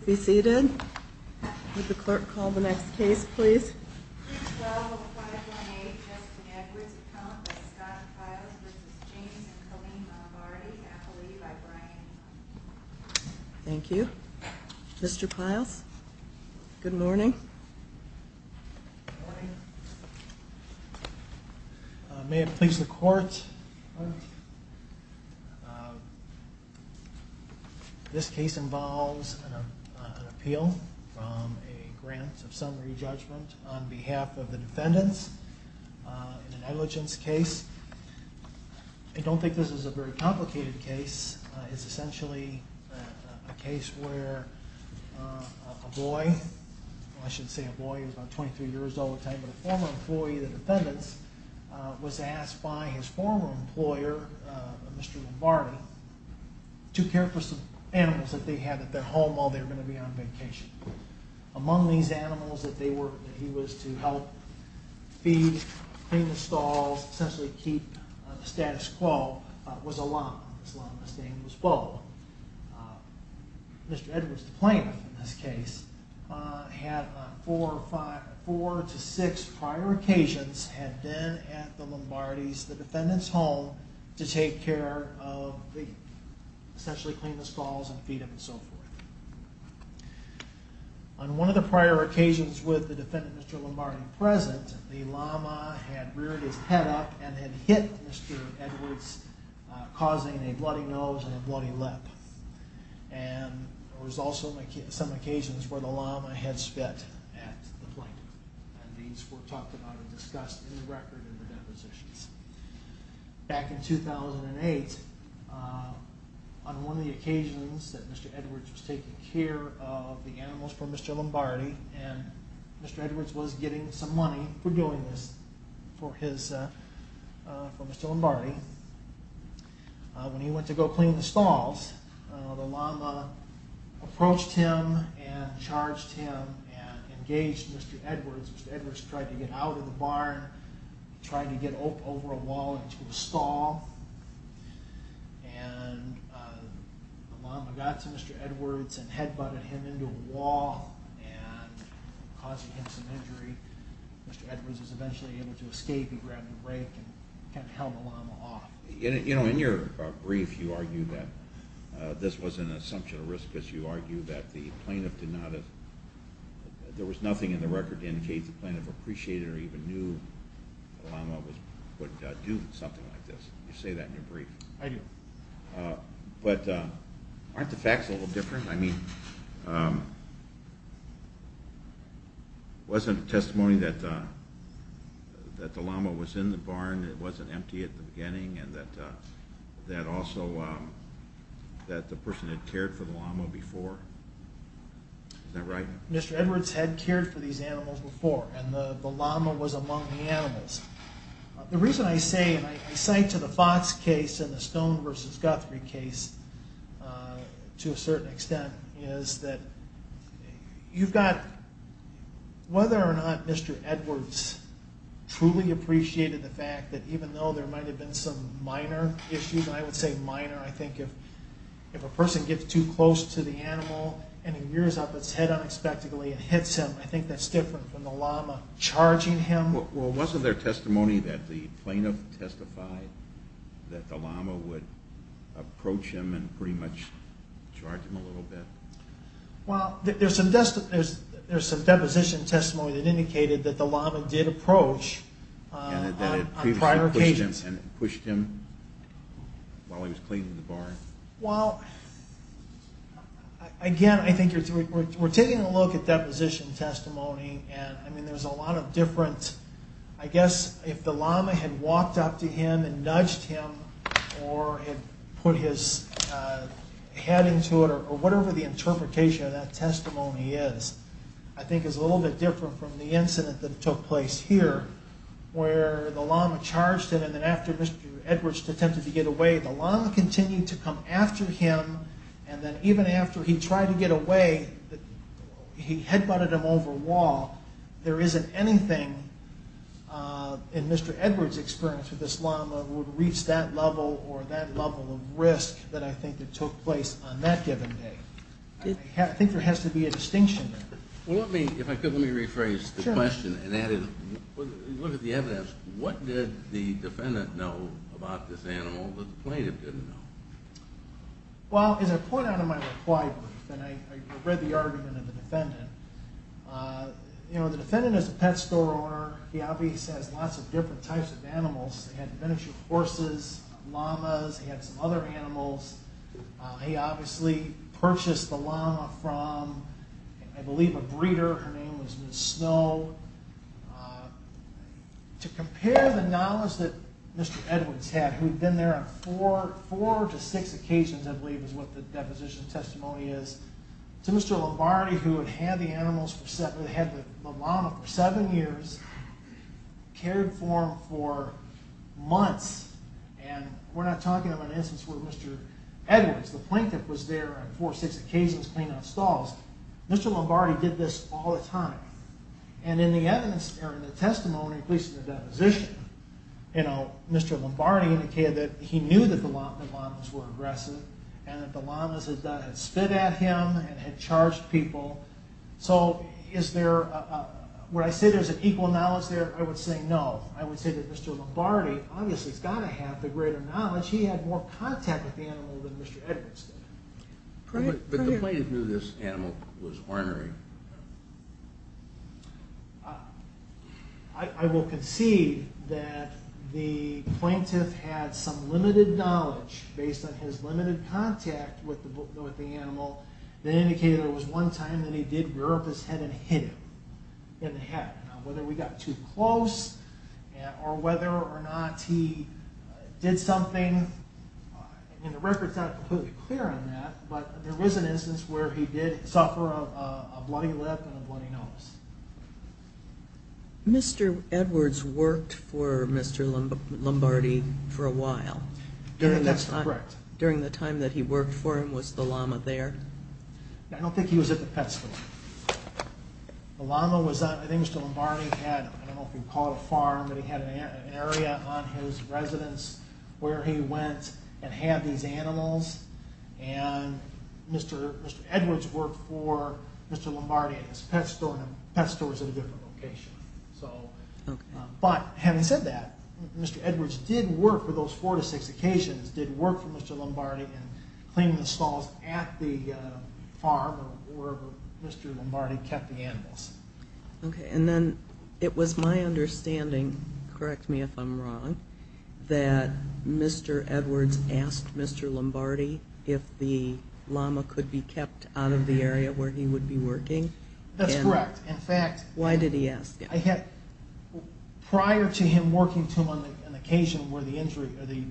Please be seated. Would the clerk call the next case please? 312-518 Justin Edwards, appellant by Scott Pyles v. James and Colleen Lombardi, appellee by Brian. Thank you. Mr. Pyles, good morning. Good morning. May it please the court, this case involves an appeal from a grant of summary judgment on behalf of the defendants in an negligence case. I don't think this is a very complicated case. It's essentially a case where a boy, I shouldn't say a boy, he was about 23 years old at the time, but a former employee of the defendants was asked by his former employer, Mr. Lombardi, to care for some animals that they had at their home while they were going to be on vacation. Among these animals that he was to help feed, clean the stalls, essentially keep the status quo, was a llama. This llama's name was Bo. Mr. Edwards, the plaintiff in this case, had on four to six prior occasions had been at the defendants' home to take care of, essentially clean the stalls and feed them and so forth. On one of the prior occasions with the defendant, Mr. Lombardi, present, the llama had reared his head up and had hit Mr. Edwards, causing a bloody nose and a bloody lip. There was also some occasions where the llama had spit at the plaintiff. These were talked about and discussed in the record in the depositions. Back in 2008, on one of the occasions that Mr. Edwards was taking care of the animals for Mr. Lombardi, and Mr. Edwards was getting some money for doing this for Mr. Lombardi, when he went to go clean the stalls, the llama approached him and charged him and engaged Mr. Edwards. Mr. Edwards tried to get out of the barn, tried to get over a wall into a stall, and the llama got to Mr. Edwards and head-butted him into a wall, causing him some injury. Mr. Edwards was eventually able to escape, he grabbed a rake and held the llama off. In your brief, you argue that this wasn't an assumption of risk, because you argue that there was nothing in the record to indicate that the plaintiff appreciated or even knew that the llama would do something like this. You say that in your brief. I do. But aren't the facts a little different? I mean, wasn't it testimony that the llama was in the barn, it wasn't empty at the beginning, and that the person had cared for the llama before? Mr. Edwards had cared for these animals before, and the llama was among the animals. The reason I say, and I cite to the Fox case and the Stone v. Guthrie case to a certain extent, is that whether or not Mr. Edwards truly appreciated the fact that even though there might have been some minor issues, and I would say minor, I think if a person gets too close to the animal and it rears up its head unexpectedly and hits him, I think that's different from the llama charging him. Well, wasn't there testimony that the plaintiff testified that the llama would approach him and pretty much charge him a little bit? Well, there's some deposition testimony that indicated that the llama did approach on prior occasions. And it pushed him while he was cleaning the barn? Well, again, I think we're taking a look at deposition testimony, and there's a lot of different, I guess if the llama had walked up to him and nudged him or had put his head into it, or whatever the interpretation of that testimony is, I think is a little bit different from the incident that took place here, where the llama charged him, and then after Mr. Edwards attempted to get away, the llama continued to come after him, and then even after he tried to get away, he head-butted him over a wall. There isn't anything in Mr. Edwards' experience with this llama that would reach that level or that level of risk that I think that took place on that given day. I think there has to be a distinction there. Well, let me, if I could, let me rephrase the question and add in, look at the evidence. What did the defendant know about this animal that the plaintiff didn't know? Well, as I point out in my reply brief, and I read the argument of the defendant, you know, the defendant is a pet store owner. He obviously has lots of different types of animals. He had miniature horses, llamas, he had some other animals. He obviously purchased the llama from, I believe, a breeder. Her name was Ms. Snow. To compare the knowledge that Mr. Edwards had, who had been there on four to six occasions, I believe is what the deposition testimony is, to Mr. Lombardi, who had had the llama for seven years, cared for him for months, and we're not talking about an instance where Mr. Edwards, the plaintiff, was there on four or six occasions cleaning up stalls. Mr. Lombardi did this all the time. And in the testimony, at least in the deposition, Mr. Lombardi indicated that he knew that the llamas were aggressive and that the llamas had spit at him and had charged people. So is there, would I say there's an equal knowledge there? I would say no. I would say that Mr. Lombardi obviously has got to have the greater knowledge. He had more contact with the animal than Mr. Edwards did. But the plaintiff knew this animal was ornery. I will concede that the plaintiff had some limited knowledge based on his limited contact with the animal that indicated there was one time that he did rear up his head and hit him in the head. Now, whether we got too close or whether or not he did something, and the record's not completely clear on that, but there was an instance where he did suffer a bloody lip and a bloody nose. Mr. Edwards worked for Mr. Lombardi for a while. That's correct. During the time that he worked for him, was the llama there? I don't think he was at the pet store. The llama was at, I think Mr. Lombardi had, I don't know if you'd call it a farm, but he had an area on his residence where he went and had these animals. And Mr. Edwards worked for Mr. Lombardi at his pet store, and the pet store was at a different location. But having said that, Mr. Edwards did work for those four to six occasions, did work for Mr. Lombardi in cleaning the stalls at the farm where Mr. Lombardi kept the animals. Okay, and then it was my understanding, correct me if I'm wrong, that Mr. Edwards asked Mr. Lombardi if the llama could be kept out of the area where he would be working? That's correct. In fact, Why did he ask? I had, prior to him working to him on an occasion where the injury, or the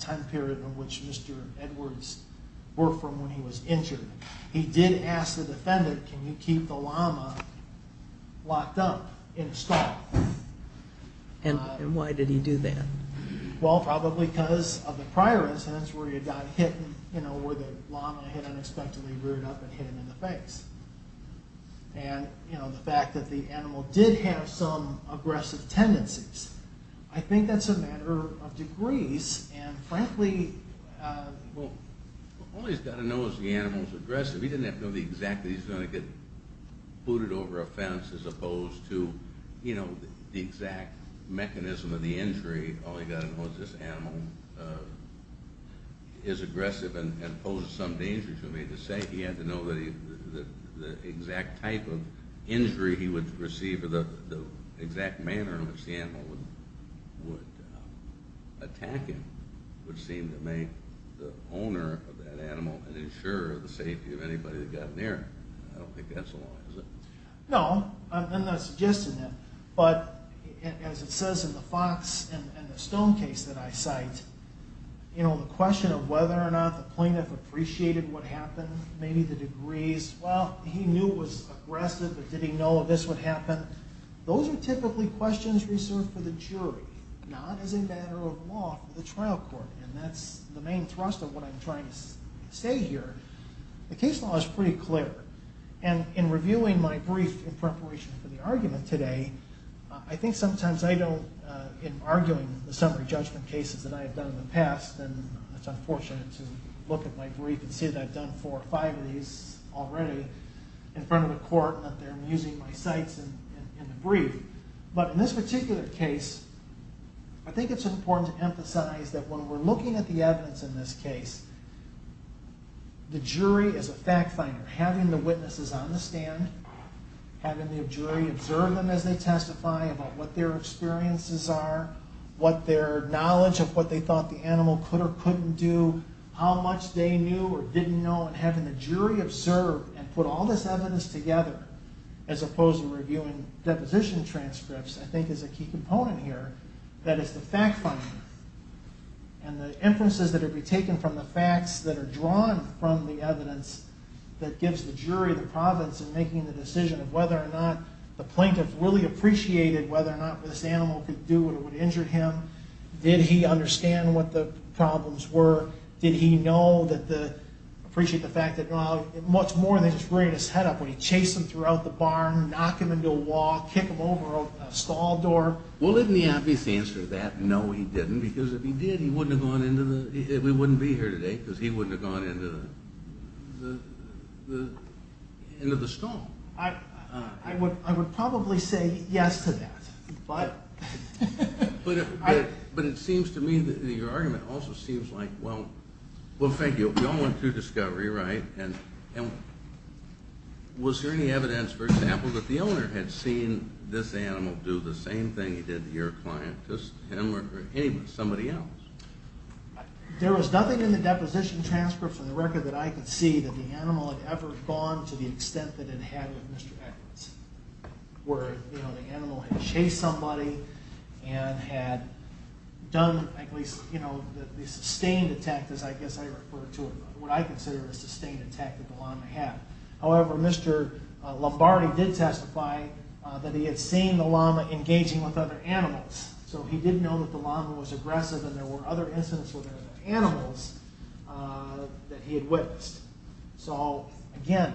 time period in which Mr. Edwards worked from when he was injured, he did ask the defendant, can you keep the llama locked up in a stall? And why did he do that? Well, probably because of the prior incidents where he had gotten hit, where the llama had unexpectedly reared up and hit him in the face. And the fact that the animal did have some aggressive tendencies. I think that's a matter of degrees, and frankly... Well, all he's got to know is the animal's aggressive. He didn't have to know exactly he's going to get booted over a fence as opposed to, you know, the exact mechanism of the injury. All he got to know is this animal is aggressive and poses some danger to him. Needless to say, he had to know the exact type of injury he would receive or the exact manner in which the animal would attack him. Which seemed to make the owner of that animal an insurer of the safety of anybody that got near him. I don't think that's the law, is it? No, I'm not suggesting that. But as it says in the Fox and the Stone case that I cite, you know, the question of whether or not the plaintiff appreciated what happened, maybe the degrees, well, he knew it was aggressive, but did he know this would happen? Those are typically questions reserved for the jury, not as a matter of law for the trial court. And that's the main thrust of what I'm trying to say here. The case law is pretty clear. And in reviewing my brief in preparation for the argument today, I think sometimes I don't, in arguing the summary judgment cases that I have done in the past, and it's unfortunate to look at my brief and see that I've done four or five of these already in front of the court and that they're using my cites in the brief. But in this particular case, I think it's important to emphasize that when we're looking at the evidence in this case, the jury is a fact finder. Having the witnesses on the stand, having the jury observe them as they testify about what their experiences are, what their knowledge of what they thought the animal could or couldn't do, how much they knew or didn't know, and having the jury observe and put all this evidence together as opposed to reviewing deposition transcripts, I think is a key component here. That is the fact finder. And the inferences that have been taken from the facts that are drawn from the evidence that gives the jury the providence in making the decision of whether or not the plaintiff really appreciated whether or not this animal could do what would injure him. Did he understand what the problems were? Did he know that the... appreciate the fact that, well, it's much more than just bringing his head up when you chase him throughout the barn, knock him into a wall, kick him over a stall door. Well, didn't he obviously answer that? No, he didn't, because if he did, he wouldn't have gone into the... we wouldn't be here today because he wouldn't have gone into the stall. I would probably say yes to that. But... But it seems to me that your argument also seems like, well, thank you. We all went through discovery, right? And... was there any evidence, for example, that the owner had seen this animal do the same thing he did to your client, just him or anyone, somebody else? There was nothing in the deposition transfer from the record that I could see that the animal had ever gone to the extent that it had with Mr. Edwards, where, you know, the animal had chased somebody and had done at least, you know, the sustained attack, as I guess I refer to it, what I consider a sustained attack that the llama had. However, Mr. Lombardi did testify that he had seen the llama engaging with other animals. So he did know that the llama was aggressive and there were other incidents with other animals that he had witnessed. So, again,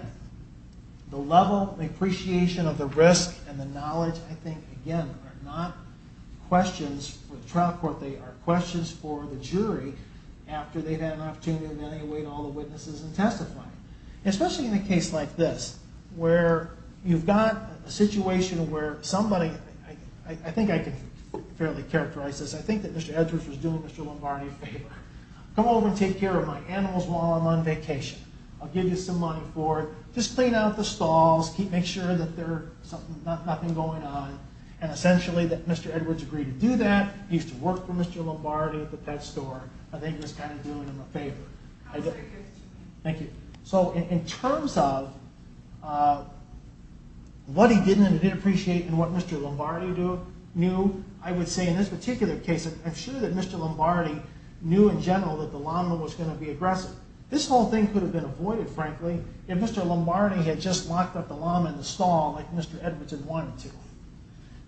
the level, the appreciation of the risk and the knowledge, I think, again, are not questions for the trial court. They are questions for the jury after they've had an opportunity and then they await all the witnesses in testifying. Especially in a case like this, where you've got a situation where somebody... I think I can fairly characterize this. I think that Mr. Edwards was doing Mr. Lombardi a favor. Come over and take care of my animals while I'm on vacation. I'll give you some money for it. Just clean out the stalls. Make sure that there's nothing going on. And essentially, Mr. Edwards agreed to do that. He used to work for Mr. Lombardi at the pet store. I think he was kind of doing him a favor. Thank you. So in terms of what he didn't appreciate and what Mr. Lombardi knew, I would say in this particular case, I'm sure that Mr. Lombardi knew in general that the llama was going to be aggressive. This whole thing could have been avoided, frankly, if Mr. Lombardi had just locked up the llama in the stall like Mr. Edwards had wanted to.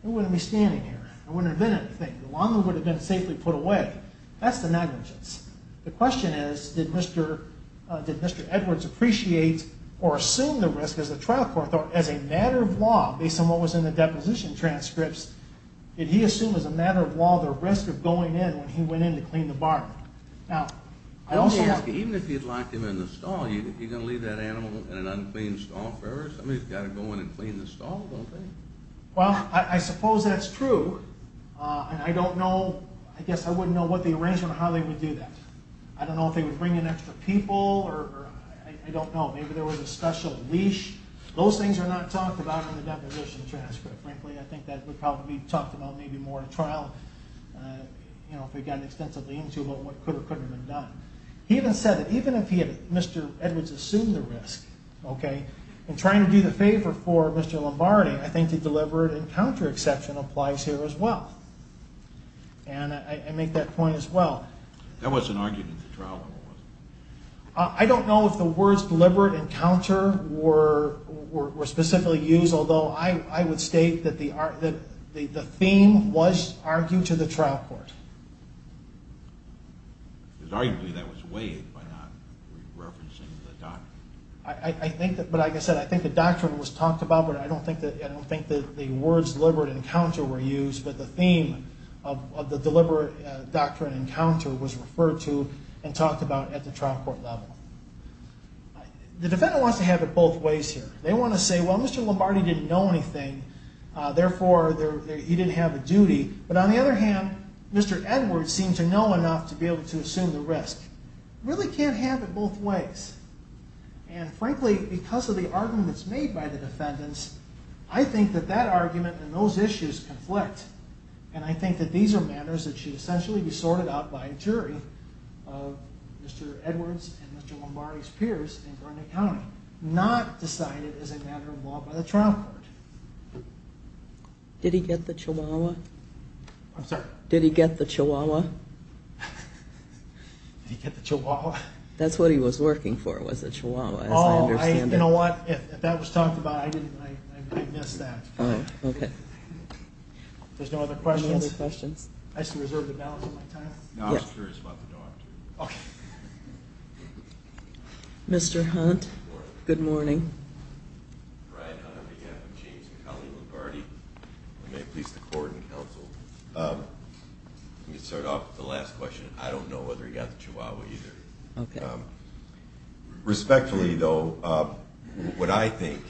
He wouldn't be standing here. There wouldn't have been anything. The llama would have been safely put away. That's the negligence. The question is, did Mr. Edwards appreciate or assume the risk as a trial court, or as a matter of law, based on what was in the deposition transcripts, did he assume as a matter of law the risk of going in when he went in to clean the barn? Now, I also... Let me ask you, even if you'd locked him in the stall, you're going to leave that animal in an unclean stall forever? Somebody's got to go in and clean the stall, don't they? Well, I suppose that's true, and I don't know... I guess I wouldn't know what the arrangement or how they would do that. I don't know if they would bring in extra people, or I don't know, maybe there was a special leash. Those things are not talked about in the deposition transcript. Frankly, I think that would probably be talked about maybe more in a trial, you know, if we got extensively into about what could or couldn't have been done. He even said that even if Mr. Edwards assumed the risk, okay, in trying to do the favor for Mr. Lombardi, I think the deliberate encounter exception applies here as well. And I make that point as well. That wasn't argued in the trial, was it? I don't know if the words deliberate encounter were specifically used, although I would state that the theme was argued to the trial court. Arguably, that was weighed by not referencing the doctrine. I think that... But like I said, I think the doctrine was talked about, but I don't think that the words deliberate encounter were used, but the theme of the deliberate doctrine encounter was referred to and talked about at the trial court level. The defendant wants to have it both ways here. They want to say, well, Mr. Lombardi didn't know anything, therefore he didn't have a duty. But on the other hand, Mr. Edwards seemed to know enough to be able to assume the risk. Really can't have it both ways. And frankly, because of the arguments made by the defendants, I think that that argument and those issues conflict. And I think that these are matters that should essentially be sorted out by a jury of Mr. Edwards and Mr. Lombardi's peers in Burnett County, not decided as a matter of law by the trial court. Did he get the chihuahua? I'm sorry? Did he get the chihuahua? Did he get the chihuahua? That's what he was working for was a chihuahua, as I understand it. You know what? If that was talked about, I missed that. Okay. If there's no other questions, I shall reserve the balance of my time. No, I was curious about the doctrine. Okay. Mr. Hunt, good morning. Brian Hunt, I'm James McAuley Lombardi. I may please the court and counsel. Let me start off with the last question. I don't know whether he got the chihuahua either. Okay. Respectfully, though, what I think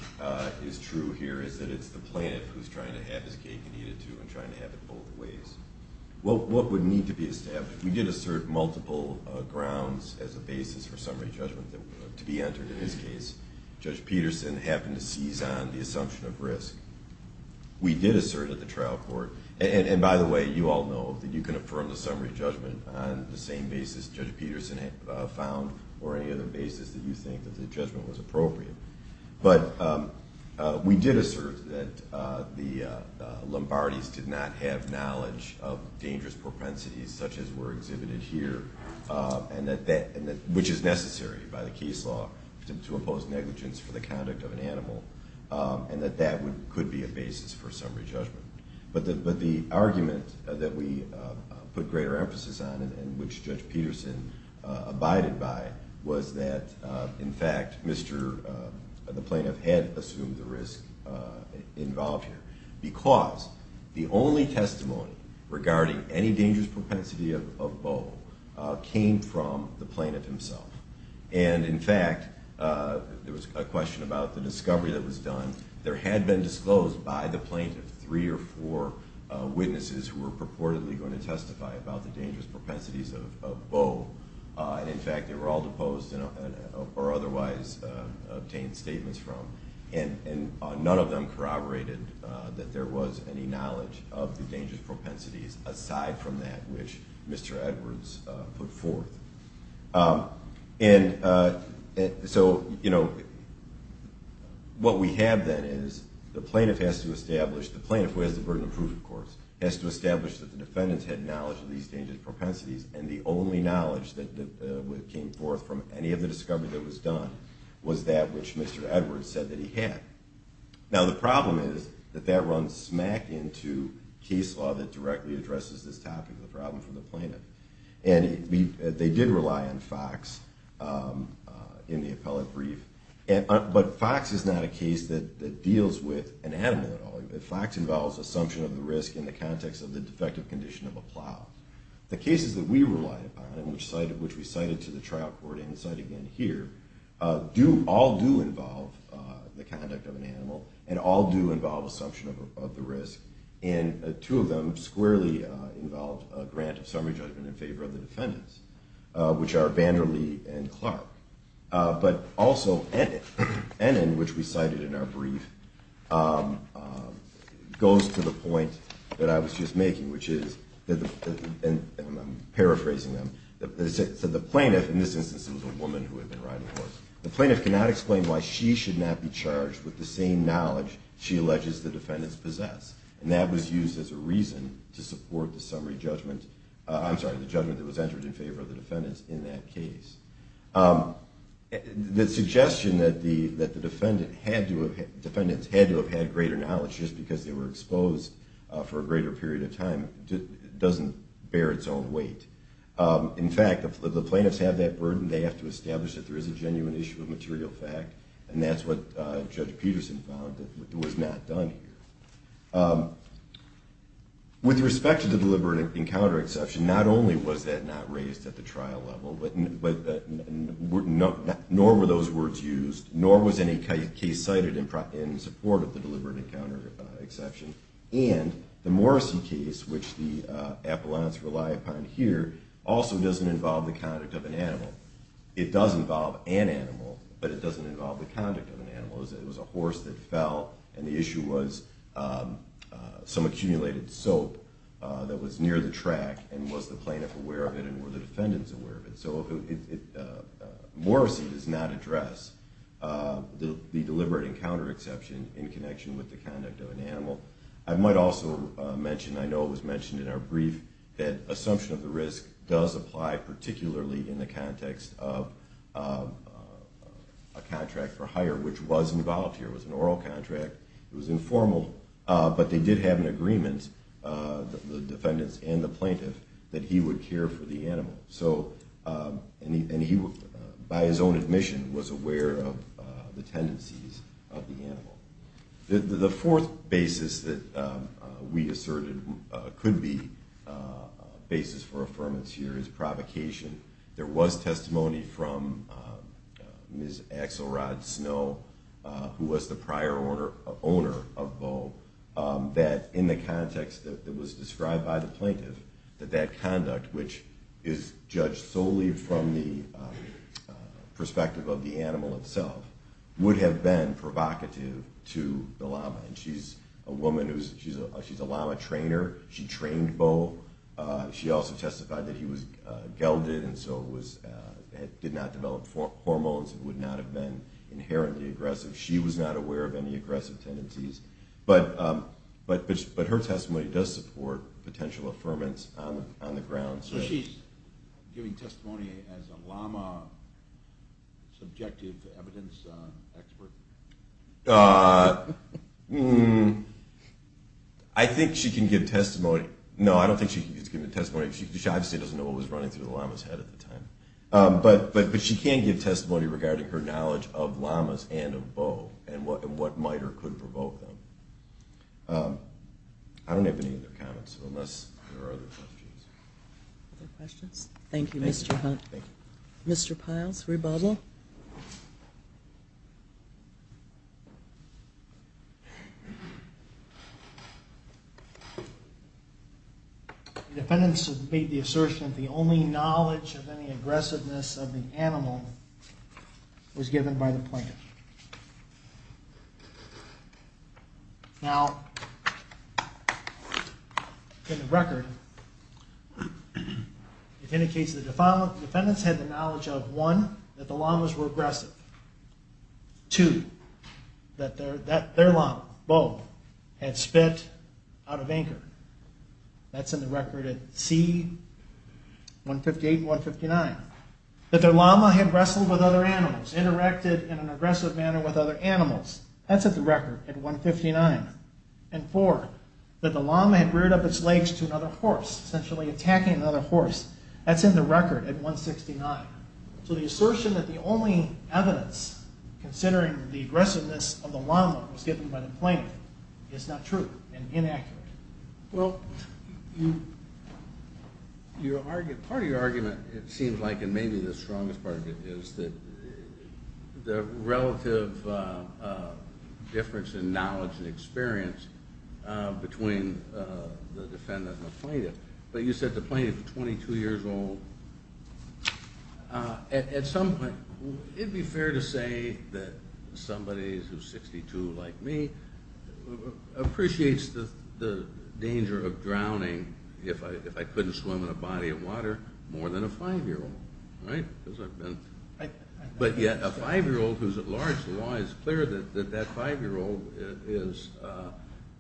is true here is that it's the plaintiff who's trying to have his cake and eat it, too, and trying to have it both ways. What would need to be established, we did assert multiple grounds as a basis for summary judgment to be entered in this case. Judge Peterson happened to seize on the assumption of risk. We did assert at the trial court, and by the way, you all know that you can affirm the summary judgment on the same basis Judge Peterson found or any other basis that you think that the judgment was appropriate. But we did assert that the Lombardis did not have knowledge of dangerous propensities such as were exhibited here, which is necessary by the case law to impose negligence for the conduct of an animal, and that that could be a basis for summary judgment. But the argument that we put greater emphasis on and which Judge Peterson abided by was that, in fact, the plaintiff had assumed the risk involved here because the only testimony regarding any dangerous propensity of Bo came from the plaintiff himself. And, in fact, there was a question about the discovery that was done. There had been disclosed by the plaintiff three or four witnesses who were purportedly going to testify about the dangerous propensities of Bo. In fact, they were all deposed or otherwise obtained statements from, and none of them corroborated that there was any knowledge of the dangerous propensities aside from that which Mr. Edwards put forth. And so, you know, what we have then is the plaintiff has to establish, the plaintiff who has the burden of proof, of course, has to establish that the defendants had knowledge of these dangerous propensities, and the only knowledge that came forth from any of the discovery that was done was that which Mr. Edwards said that he had. Now, the problem is that that runs smack into case law that directly addresses this topic of the problem for the plaintiff. And they did rely on FOX in the appellate brief. But FOX is not a case that deals with an animal at all. FOX involves assumption of the risk in the context of the defective condition of a plow. The cases that we relied upon, which we cited to the trial court and cited again here, all do involve the conduct of an animal and all do involve assumption of the risk. And two of them squarely involved a grant of summary judgment in favor of the defendants, which are Vander Lee and Clark. But also Ennin, which we cited in our brief, goes to the point that I was just making, which is, and I'm paraphrasing them, so the plaintiff, in this instance it was a woman who had been riding a horse, the plaintiff cannot explain why she should not be charged with the same crime. And that was used as a reason to support the summary judgment, I'm sorry, the judgment that was entered in favor of the defendants in that case. The suggestion that the defendants had to have had greater knowledge just because they were exposed for a greater period of time doesn't bear its own weight. In fact, if the plaintiffs have that burden, they have to establish that there is a genuine issue of material fact. And that's what Judge Peterson found that was not done here. With respect to the deliberate encounter exception, not only was that not raised at the trial level, but nor were those words used, nor was any case cited in support of the deliberate encounter exception. And the Morrissey case, which the appellants rely upon here, also doesn't involve the conduct of an animal. It does involve an animal, but it doesn't involve the conduct of an animal. It was a horse that fell, and the issue was some accumulated soap that was near the track, and was the plaintiff aware of it, and were the defendants aware of it? So Morrissey does not address the deliberate encounter exception in connection with the conduct of an animal. I might also mention, I know it was mentioned in our brief, that assumption of the risk does apply particularly in the context of a contract for hire, which was involved here. It was an oral contract. It was informal, but they did have an agreement, the defendants and the plaintiff, that he would care for the animal. And he, by his own admission, was aware of the tendencies of the animal. The fourth basis that we asserted could be a basis for affirmance here is provocation. There was testimony from Ms. Axelrod Snow, who was the prior owner of Boe, that in the context that was described by the plaintiff, that that conduct, which is judged solely from the perspective of the animal itself, would have been provocative to the llama. And she's a llama trainer. She trained Boe. She also testified that he was gelded and so did not develop hormones and would not have been inherently aggressive. She was not aware of any aggressive tendencies. But her testimony does support potential affirmance on the ground. So she's giving testimony as a llama subjective evidence expert? I think she can give testimony. No, I don't think she can give testimony because she obviously doesn't know what was running through the llama's head at the time. But she can give testimony regarding her knowledge of llamas and of Boe and what miter could provoke them. I don't have any other comments unless there are other questions. Other questions? Thank you, Mr. Hunt. Thank you. Mr. Piles, rebuttal. The defendants have made the assertion that the only knowledge of any Now, in the record, it indicates the defendants had the knowledge of, one, that the llamas were aggressive. Two, that their llama, Boe, had spit out of anchor. That's in the record at C-158 and 159. That their llama had wrestled with other animals, interacted in an aggressive manner with other animals. That's in the record at 159. And four, that the llama had reared up its legs to another horse, essentially attacking another horse. That's in the record at 169. So the assertion that the only evidence, considering the aggressiveness of the llama was given by the plaintiff, is not true and inaccurate. Well, part of your argument, it seems like, and maybe the strongest part of it is the relative difference in knowledge and experience between the defendant and the plaintiff. But you said the plaintiff is 22 years old. At some point, it would be fair to say that somebody who is 62, like me, appreciates the danger of drowning, if I couldn't swim in a body of water, more than a 5-year-old, right? But yet a 5-year-old who's at large, the law is clear that that 5-year-old is,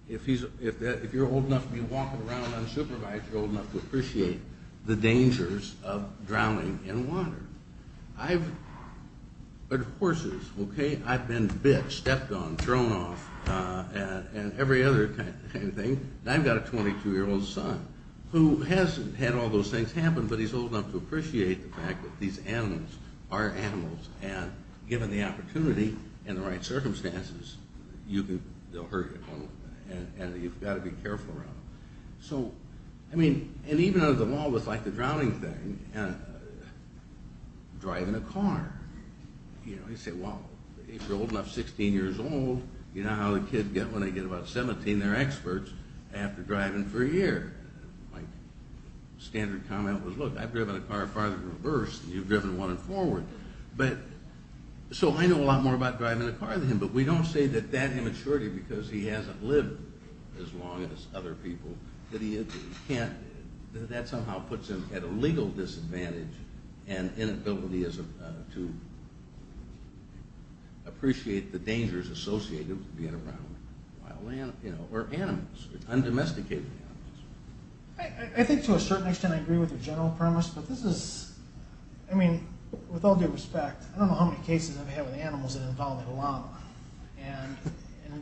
if you're old enough to be walking around unsupervised, you're old enough to appreciate the dangers of drowning in water. I've been bit, stepped on, thrown off, and every other kind of thing. And I've got a 22-year-old son who hasn't had all those things happen, but he's old enough to appreciate the fact that these animals are animals and given the opportunity and the right circumstances, they'll hurt you and you've got to be careful around them. So, I mean, and even under the law with like the drowning thing, driving a car, you know, you say, well, if you're old enough, 16 years old, you know how the kids get when they get about 17? They're experts after driving for a year. My standard comment was, look, I've driven a car farther than reversed than you've driven one in forward. But, so I know a lot more about driving a car than him, but we don't say that that immaturity because he hasn't lived as long as other people, that he can't, that somehow puts him at a legal disadvantage and inability to appreciate the dangers associated with being around wild animals, you know, or animals, undomesticated animals. I think to a certain extent I agree with your general premise, but this is, I mean, with all due respect, I don't know how many cases I've had with animals that involve a llama. And,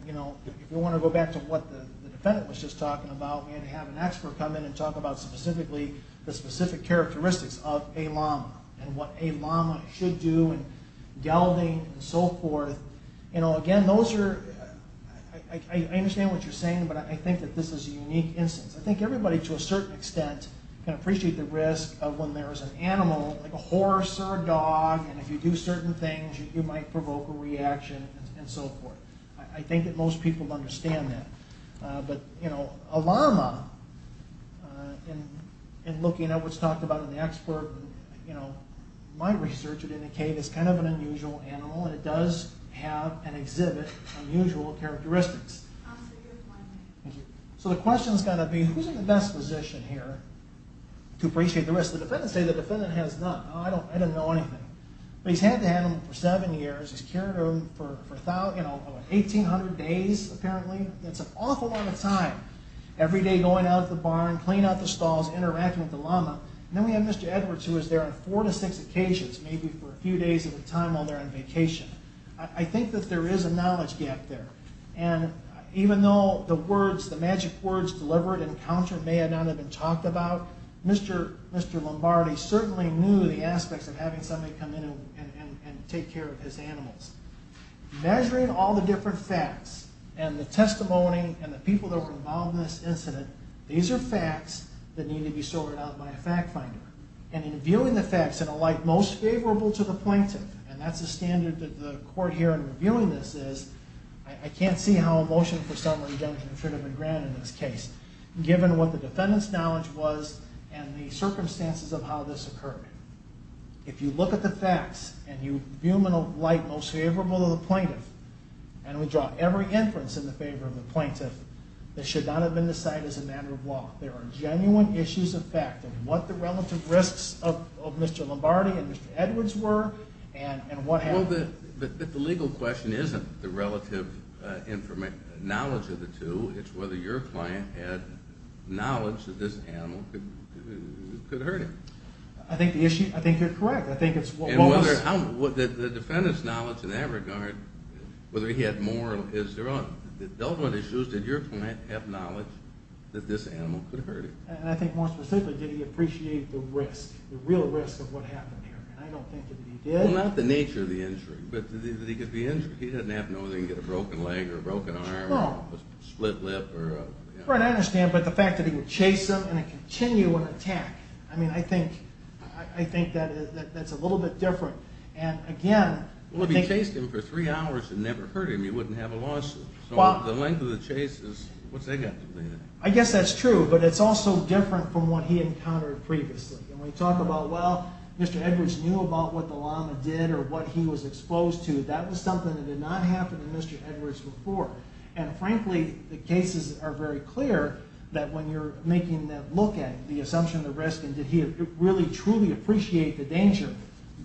you know, if you want to go back to what the defendant was just talking about, we had to have an expert come in and talk about specifically the specific characteristics of a llama and what a llama should do and gelding and so forth. You know, again, those are, I understand what you're saying, but I think that this is a unique instance. I think everybody to a certain extent can appreciate the risk of when there is an animal, like a horse or a dog, and if you do certain things you might provoke a reaction and so forth. I think that most people understand that. But, you know, a llama, in looking at what's talked about in the expert, you know, my research would indicate it's kind of an unusual animal and it does have and exhibit unusual characteristics. So the question's got to be who's in the best position here to appreciate the risk? The defendants say the defendant has none. I don't know anything. But he's had the animal for seven years. He's cured him for 1,800 days apparently. That's an awful lot of time. Every day going out at the barn, cleaning out the stalls, interacting with the llama. Then we have Mr. Edwards who was there on four to six occasions, maybe for a few days at a time while they're on vacation. I think that there is a knowledge gap there. And even though the words, the magic words, delivered, encountered, may or may not have been talked about, Mr. Lombardi certainly knew the aspects of having somebody come in and take care of his animals. Measuring all the different facts and the testimony and the people that were involved in this incident, these are facts that need to be sorted out by a fact finder. And in viewing the facts in a light most favorable to the plaintiff, and that's the standard that the court here in reviewing this is, I can't see how a motion for summary judgment should have been granted in this case, given what the defendant's knowledge was and the circumstances of how this occurred. If you look at the facts and you view them in a light most favorable to the plaintiff, and we draw every inference in the favor of the plaintiff, this should not have been decided as a matter of law. There are genuine issues of fact of what the relative risks of Mr. Lombardi and Mr. Edwards were and what happened. But the legal question isn't the relative knowledge of the two. It's whether your client had knowledge that this animal could hurt him. I think you're correct. And the defendant's knowledge in that regard, whether he had more or less, those are the issues. Did your client have knowledge that this animal could hurt him? I think more specifically, did he appreciate the risk, the real risk of what happened here? I don't think that he did. Well, not the nature of the injury, but that he could be injured. He didn't have to know that he could get a broken leg or a broken arm or a split lip. Right, I understand. But the fact that he would chase him and continue an attack, I mean, I think that's a little bit different. And again, Well, if he chased him for three hours and never hurt him, you wouldn't have a lawsuit. So the length of the chase is, what's that got to do with anything? I guess that's true. But it's also different from what he encountered previously. And when you talk about, well, Mr. Edwards knew about what the llama did or what he was exposed to, that was something that did not happen in Mr. Edwards' report. And frankly, the cases are very clear that when you're making that look at the assumption of the risk and did he really truly appreciate the danger,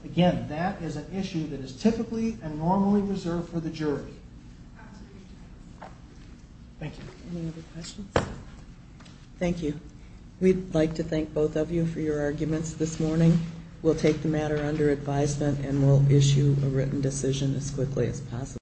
again, that is an issue that is typically and normally reserved for the jury. Absolutely. Thank you. Any other questions? Thank you. We'd like to thank both of you for your arguments this morning. We'll take the matter under advisement and we'll issue a written decision as quickly as possible.